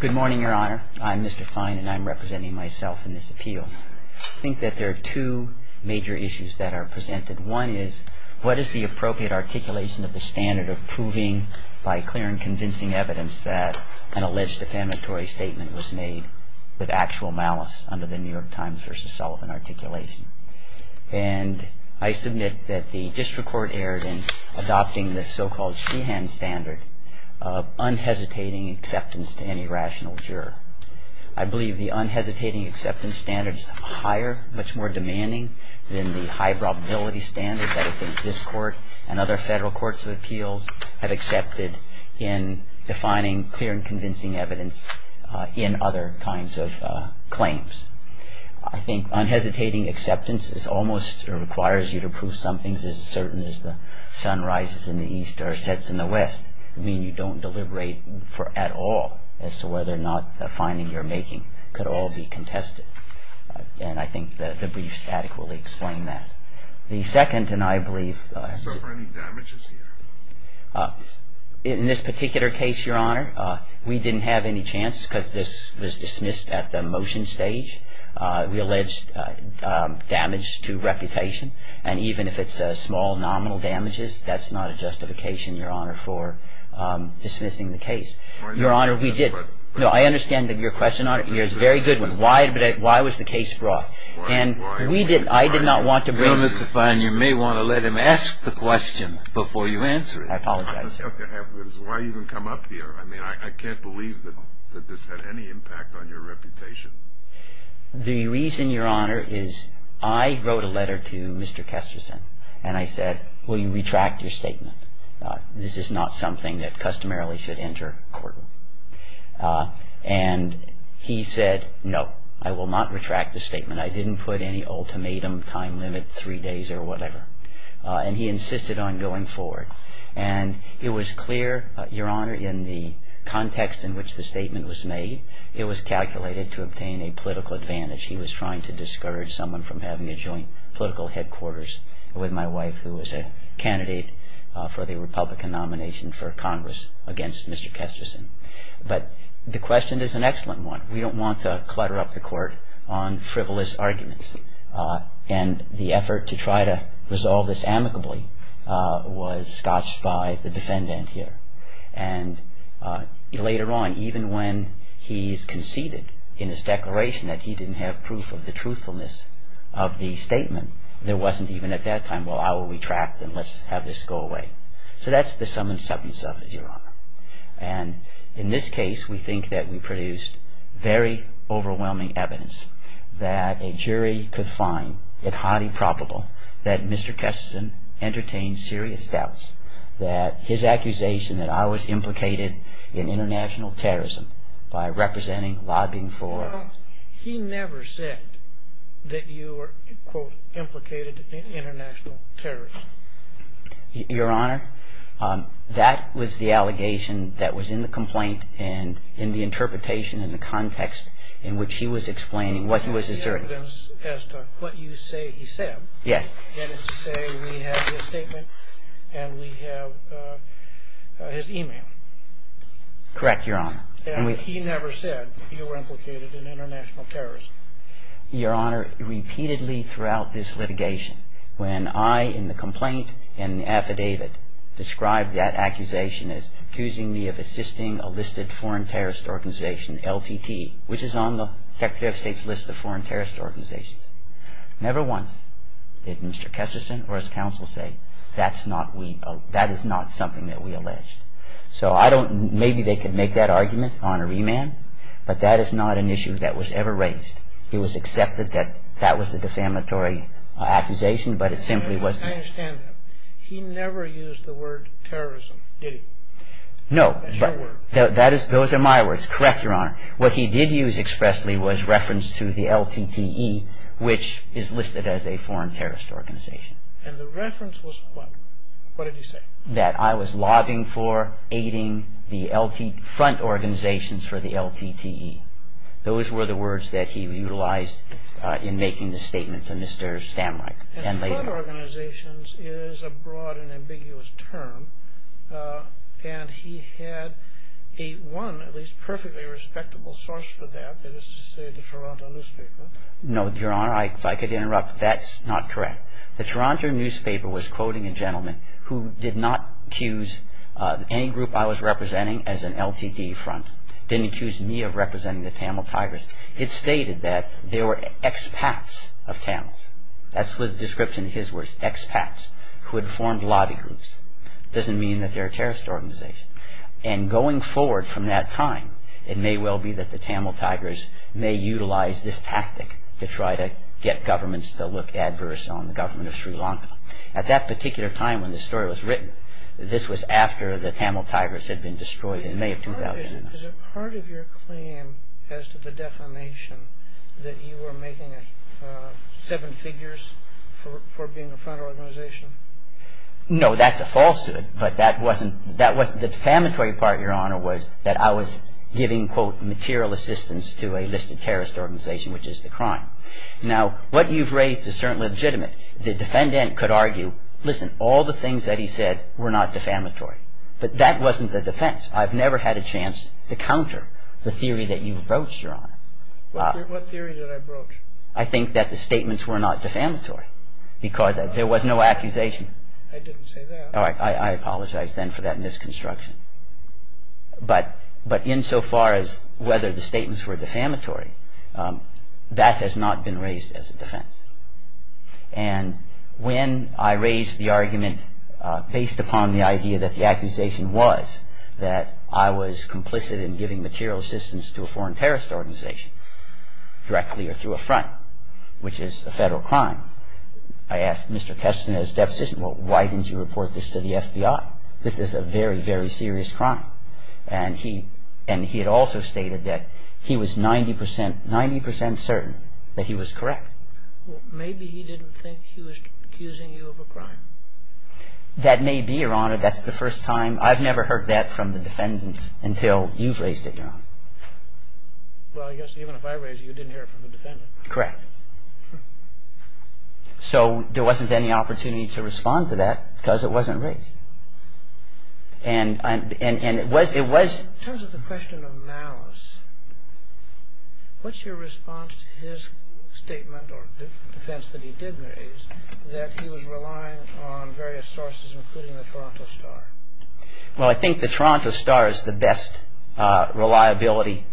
Good morning, Your Honor. I'm Mr. Fein, and I'm representing myself in this appeal. I think that there are two major issues that are presented. One is, what is the appropriate articulation of the standard of proving by clear and convincing evidence that an alleged defamatory statement was made with actual malice under the New York Times v. Sullivan articulation? And I submit that the district court erred in adopting the so-called Sheehan standard of unhesitating acceptance to any rational juror. I believe the unhesitating acceptance standard is higher, much more demanding, than the high probability standard that I think this Court and other federal courts of appeals have accepted in defining clear and convincing evidence in other kinds of claims. I think unhesitating acceptance is almost, or requires you to prove some things as certain as the sun rises in the east or sets in the west, meaning you don't deliberate at all as to whether or not the finding you're making could all be contested. And I think the briefs adequately explain that. The second, and I believe... So are there any damages here? In this particular case, Your Honor, we didn't have any chance because this was dismissed at the motion stage. We alleged damage to reputation, and even if it's small nominal damages, that's not a justification, Your Honor, for dismissing the case. Your Honor, we did... No, I understand that your question, Your Honor, is a very good one. Why was the case brought? And I did not want to bring... Well, Mr. Fein, you may want to let him ask the question before you answer it. I apologize. Why even come up here? I mean, I can't believe that this had any impact on your reputation. The reason, Your Honor, is I wrote a letter to Mr. Kesterson, and I said, will you retract your statement? This is not something that customarily should enter court. And he said, no, I will not retract the statement. I didn't put any ultimatum, time limit, three days or whatever. And he insisted on going forward. And it was clear, Your Honor, in the context in which the statement was made, it was calculated to obtain a political advantage. He was trying to discourage someone from having a joint political headquarters with my wife, who was a candidate for the Republican nomination for Congress against Mr. Kesterson. But the question is an excellent one. We don't want to clutter up the court on frivolous arguments. And the effort to try to resolve this amicably was scotched by the defendant here. And later on, even when he's conceded in his declaration that he didn't have proof of the truthfulness of the statement, there wasn't even at that time, well, I will retract and let's have this go away. So that's the sum and substance of it, Your Honor. And in this case, we think that we produced very overwhelming evidence that a jury could find it highly probable that Mr. Kesterson entertained serious doubts, that his accusation that I was implicated in international terrorism by representing, lobbying for. He never said that you were, quote, implicated in international terrorism. Your Honor, that was the allegation that was in the complaint and in the interpretation and the context in which he was explaining what he was asserting. The evidence as to what you say he said. Yes. That is to say we have his statement and we have his email. Correct, Your Honor. And he never said you were implicated in international terrorism. Your Honor, repeatedly throughout this litigation, when I in the complaint and the affidavit described that accusation as accusing me of assisting a listed foreign terrorist organization, LTT, which is on the Secretary of State's list of foreign terrorist organizations. Never once did Mr. Kesterson or his counsel say that is not something that we alleged. So I don't, maybe they could make that argument on a remand, but that is not an issue that was ever raised. It was accepted that that was a defamatory accusation, but it simply wasn't. I understand that. He never used the word terrorism, did he? No. That's your word. Those are my words. Correct, Your Honor. What he did use expressly was reference to the LTT, which is listed as a foreign terrorist organization. And the reference was what? What did he say? That I was lobbying for, aiding the LTT, front organizations for the LTT. Those were the words that he utilized in making the statement to Mr. Stamreich. And front organizations is a broad and ambiguous term, and he had a one, at least perfectly respectable source for that, that is to say the Toronto newspaper. No, Your Honor, if I could interrupt. That's not correct. The Toronto newspaper was quoting a gentleman who did not accuse any group I was representing as an LTT front, didn't accuse me of representing the Tamil Tigers. It stated that they were expats of Tamils. That's the description of his words, expats, who had formed lobby groups. It doesn't mean that they're a terrorist organization. And going forward from that time, it may well be that the Tamil Tigers may utilize this tactic to try to get governments to look adverse on the government of Sri Lanka. At that particular time when this story was written, this was after the Tamil Tigers had been destroyed in May of 2001. Is it part of your claim as to the defamation that you were making seven figures for being a front organization? No, that's a falsehood, but that wasn't the defamatory part, Your Honor, was that I was giving, quote, material assistance to a listed terrorist organization, which is the crime. Now, what you've raised is certainly legitimate. The defendant could argue, listen, all the things that he said were not defamatory. But that wasn't the defense. I've never had a chance to counter the theory that you broached, Your Honor. What theory did I broach? I think that the statements were not defamatory because there was no accusation. I didn't say that. I apologize then for that misconstruction. But insofar as whether the statements were defamatory, that has not been raised as a defense. And when I raised the argument based upon the idea that the accusation was that I was complicit in giving material assistance to a foreign terrorist organization directly or through a front, which is a federal crime, I asked Mr. Kessler and his deposition, well, why didn't you report this to the FBI? This is a very, very serious crime. And he had also stated that he was 90 percent certain that he was correct. Maybe he didn't think he was accusing you of a crime. That may be, Your Honor. That's the first time. I've never heard that from the defendant until you've raised it, Your Honor. Well, I guess even if I raised it, you didn't hear it from the defendant. Correct. So there wasn't any opportunity to respond to that because it wasn't raised. And it was... In terms of the question of malice, what's your response to his statement or defense that he did raise that he was relying on various sources, including the Toronto Star? Well, I think the Toronto Star is the best reliability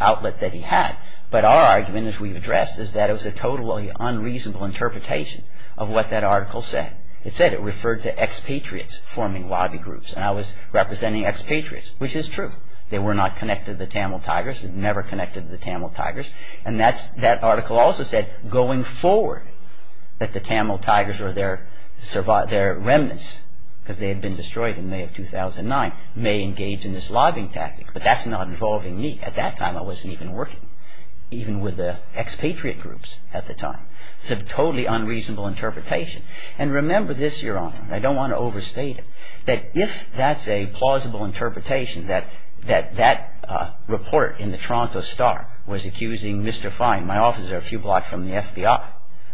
outlet that he had. But our argument, as we've addressed, is that it was a totally unreasonable interpretation of what that article said. It said it referred to expatriates forming lobby groups. And I was representing expatriates, which is true. They were not connected to the Tamil Tigers. They were never connected to the Tamil Tigers. And that article also said, going forward, that the Tamil Tigers or their remnants, because they had been destroyed in May of 2009, may engage in this lobbying tactic. But that's not involving me. At that time, I wasn't even working, even with the expatriate groups at the time. It's a totally unreasonable interpretation. And remember this, Your Honor, and I don't want to overstate it, that if that's a plausible interpretation, that that report in the Toronto Star was accusing Mr. Fine, my officer a few blocks from the FBI,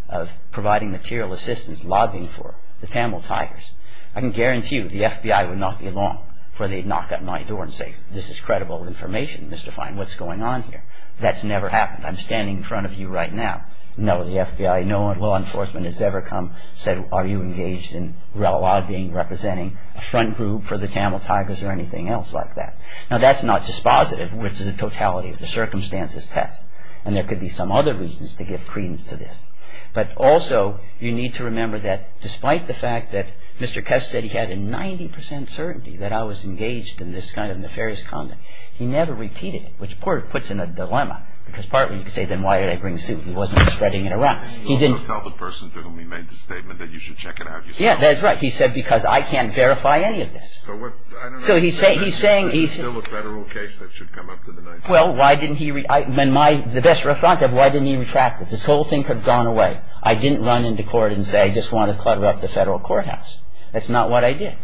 of providing material assistance, lobbying for the Tamil Tigers, I can guarantee you the FBI would not be long before they'd knock on my door and say, This is credible information, Mr. Fine. What's going on here? That's never happened. I'm standing in front of you right now. No, the FBI, no law enforcement has ever come and said, Are you engaged in lobbying, representing a front group for the Tamil Tigers, or anything else like that. Now, that's not dispositive, which is a totality of the circumstances test. And there could be some other reasons to give credence to this. But also, you need to remember that, despite the fact that Mr. Kess said he had a 90% certainty that I was engaged in this kind of nefarious conduct, he never repeated it, which puts him in a dilemma, because partly you could say, Then why did I bring the suit if he wasn't spreading it around? He didn't tell the person to whom he made the statement that you should check it out yourself. Yeah, that's right. He said, Because I can't verify any of this. So what, I don't know. So he's saying, This is still a federal case that should come up to the Ninth Circuit. Well, why didn't he, the best response, why didn't he retract it? This whole thing could have gone away. I didn't run into court and say, I just want to clutter up the federal courthouse. That's not what I did.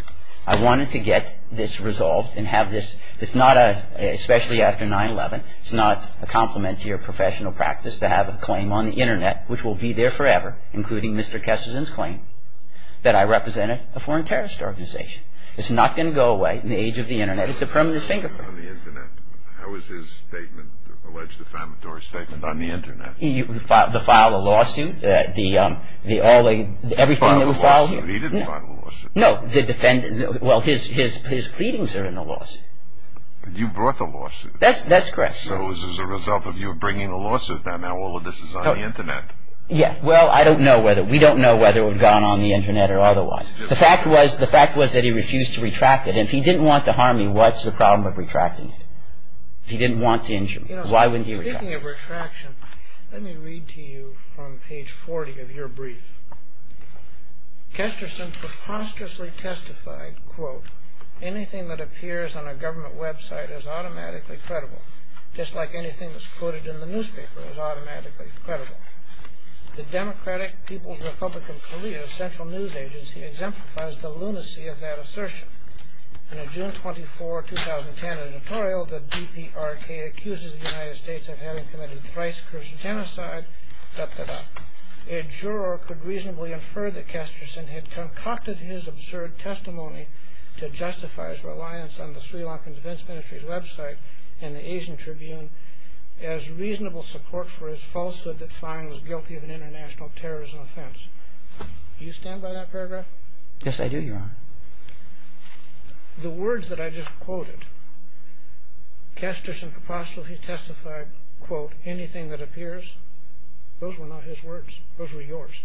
I wanted to get this resolved and have this, it's not a, especially after 9-11, it's not a complementary or professional practice to have a claim on the Internet, which will be there forever, including Mr. Kessler's claim, that I represented a foreign terrorist organization. It's not going to go away in the age of the Internet. It's a permanent fingerprint. On the Internet. How was his statement, alleged defamatory statement, on the Internet? The file of lawsuit, the all the, everything that was filed. The file of lawsuit. He didn't file a lawsuit. No, the defendant, well, his, his, his pleadings are in the lawsuit. You brought the lawsuit. That's, that's correct. So as a result of you bringing the lawsuit, now all of this is on the Internet. Yes. Well, I don't know whether, we don't know whether it would have gone on the Internet or otherwise. The fact was, the fact was that he refused to retract it. And if he didn't want to harm me, what's the problem of retracting it? If he didn't want to injure me, why wouldn't he retract it? You know, speaking of retraction, let me read to you from page 40 of your brief. Kesterson preposterously testified, quote, Anything that appears on a government website is automatically credible, just like anything that's quoted in the newspaper is automatically credible. The Democratic People's Republic of Korea Central News Agency exemplifies the lunacy of that assertion. In a June 24, 2010 editorial, the DPRK accuses the United States of having committed thrice-incursion genocide, a juror could reasonably infer that Kesterson had concocted his absurd testimony to justify his reliance on the Sri Lankan Defense Ministry's website and the Asian Tribune as reasonable support for his falsehood that fine was guilty of an international terrorism offense. Do you stand by that paragraph? Yes, I do, Your Honor. The words that I just quoted, Kesterson preposterously testified, quote, Anything that appears, those were not his words, those were yours.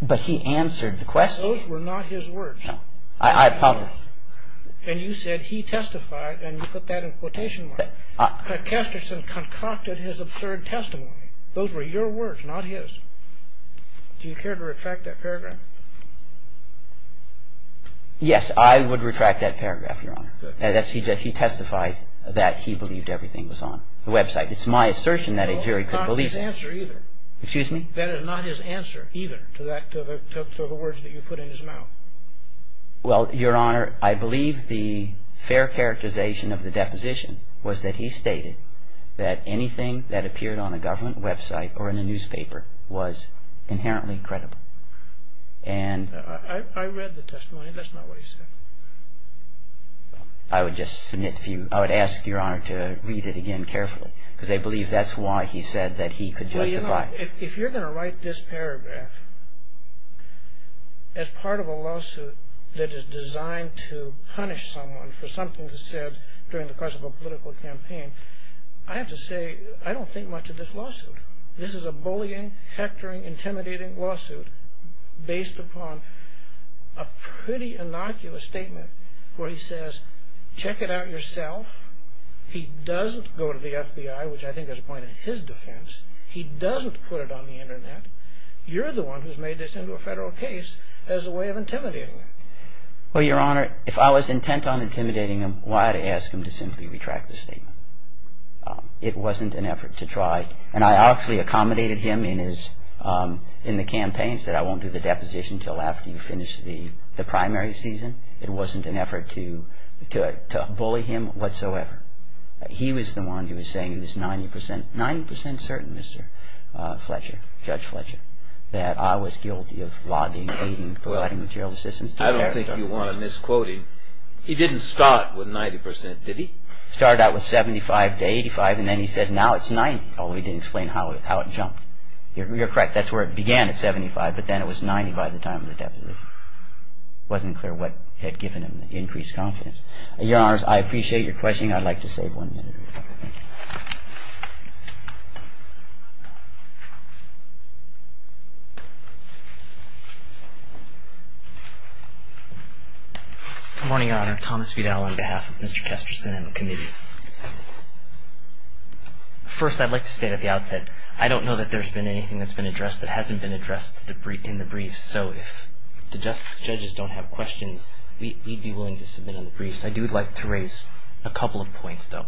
But he answered the question. Those were not his words. I apologize. And you said he testified, and you put that in quotation marks. Kesterson concocted his absurd testimony. Do you care to retract that paragraph? Yes, I would retract that paragraph, Your Honor. He testified that he believed everything was on the website. It's my assertion that a jury could believe that. That is not his answer either. Excuse me? That is not his answer either to the words that you put in his mouth. Well, Your Honor, I believe the fair characterization of the deposition was that he stated that anything that appeared on a government website or in a newspaper was inherently credible. I read the testimony. That's not what he said. I would ask Your Honor to read it again carefully, because I believe that's why he said that he could justify it. Well, Your Honor, if you're going to write this paragraph as part of a lawsuit that is designed to punish someone for something they said during the course of a political campaign, I have to say I don't think much of this lawsuit. This is a bullying, hectoring, intimidating lawsuit based upon a pretty innocuous statement where he says, Check it out yourself. He doesn't go to the FBI, which I think is a point in his defense. He doesn't put it on the Internet. You're the one who's made this into a federal case as a way of intimidating him. Well, Your Honor, if I was intent on intimidating him, why would I ask him to simply retract the statement? It wasn't an effort to try, and I actually accommodated him in the campaigns that I won't do the deposition until after you finish the primary season. It wasn't an effort to bully him whatsoever. He was the one who was saying he was 90% certain, Mr. Fletcher, Judge Fletcher, that I was guilty of lobbying, aiding, providing material assistance to a character. I don't think you want to misquote him. He didn't start with 90%, did he? He started out with 75% to 85%, and then he said now it's 90%. Although he didn't explain how it jumped. You're correct. That's where it began at 75%, but then it was 90% by the time of the deposition. It wasn't clear what had given him the increased confidence. Your Honors, I appreciate your questioning. I'd like to save one minute. Thank you. Good morning, Your Honor. Thomas Vidal on behalf of Mr. Kesterson and the Committee. First, I'd like to state at the outset, I don't know that there's been anything that's been addressed that hasn't been addressed in the brief, so if the Justice judges don't have questions, we'd be willing to submit in the brief. I do like to raise a couple of points, though.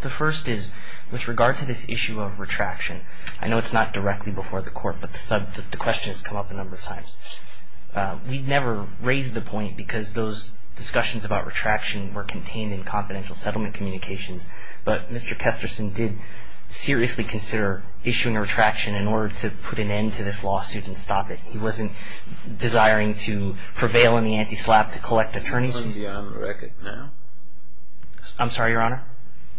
The first is, with regard to this issue of retraction, I know it's not directly before the Court, but the question has come up a number of times. We never raised the point because those discussions about retraction were contained in confidential settlement communications, but Mr. Kesterson did seriously consider issuing a retraction in order to put an end to this lawsuit and stop it. He wasn't desiring to prevail in the anti-SLAPP to collect attorneys. Are you going beyond the record now? I'm sorry, Your Honor?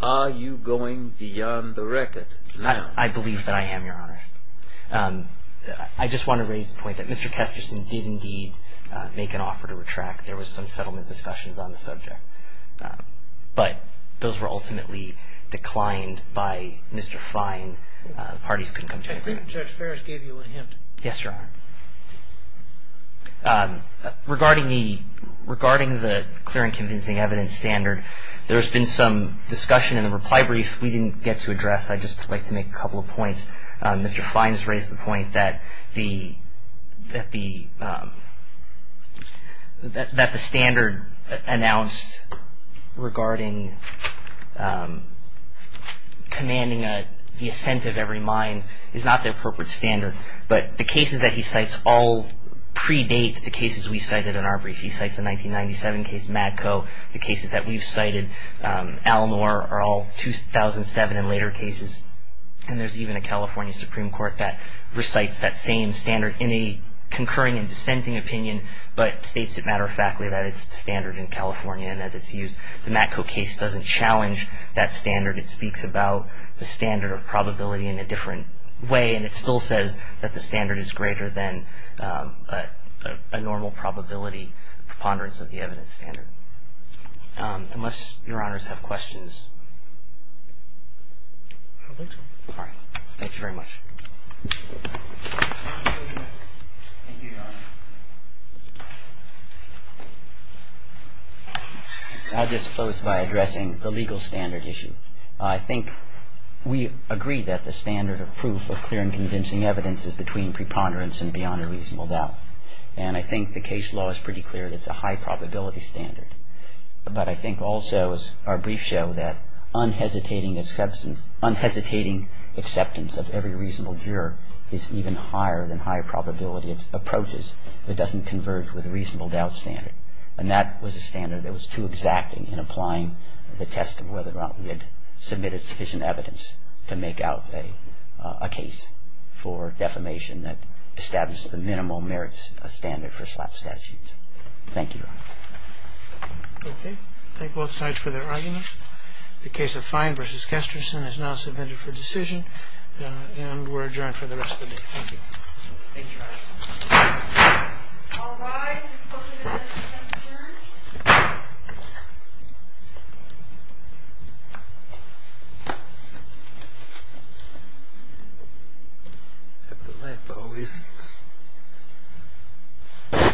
Are you going beyond the record now? I believe that I am, Your Honor. I just want to raise the point that Mr. Kesterson did indeed make an offer to retract. There was some settlement discussions on the subject, but those were ultimately declined by Mr. Fine. The parties couldn't come to an agreement. I think Judge Ferris gave you a hint. Yes, Your Honor. Regarding the clear and convincing evidence standard, there's been some discussion in the reply brief we didn't get to address. I'd just like to make a couple of points. Mr. Fine has raised the point that the standard announced regarding commanding the assent of every mine is not the appropriate standard, but the cases that he cites all predate the cases we cited in our brief. He cites a 1997 case, Matco. The cases that we've cited, Al-Noor, are all 2007 and later cases. And there's even a California Supreme Court that recites that same standard in a concurring and dissenting opinion, but states it matter-of-factly that it's the standard in California and that it's used. The Matco case doesn't challenge that standard. It speaks about the standard of probability in a different way, and it still says that the standard is greater than a normal probability preponderance of the evidence standard. Unless Your Honors have questions. All right. Thank you very much. I'll just close by addressing the legal standard issue. I think we agree that the standard of proof of clear and convincing evidence is between preponderance and beyond a reasonable doubt. And I think the case law is pretty clear that it's a high probability standard. But I think also, as our briefs show, that unhesitating acceptance of every reasonable doubt is even higher than high probability approaches that doesn't converge with a reasonable doubt standard. And that was a standard that was too exact in applying the test of whether or not we had submitted sufficient evidence to make out a case for defamation that established the minimal merits standard for slap statutes. Thank you, Your Honor. Okay. Thank both sides for their arguments. The case of Fine v. Kesterson is now submitted for decision. And we're adjourned for the rest of the day. Thank you. Thank you, Your Honor. All rise for the present adjournment.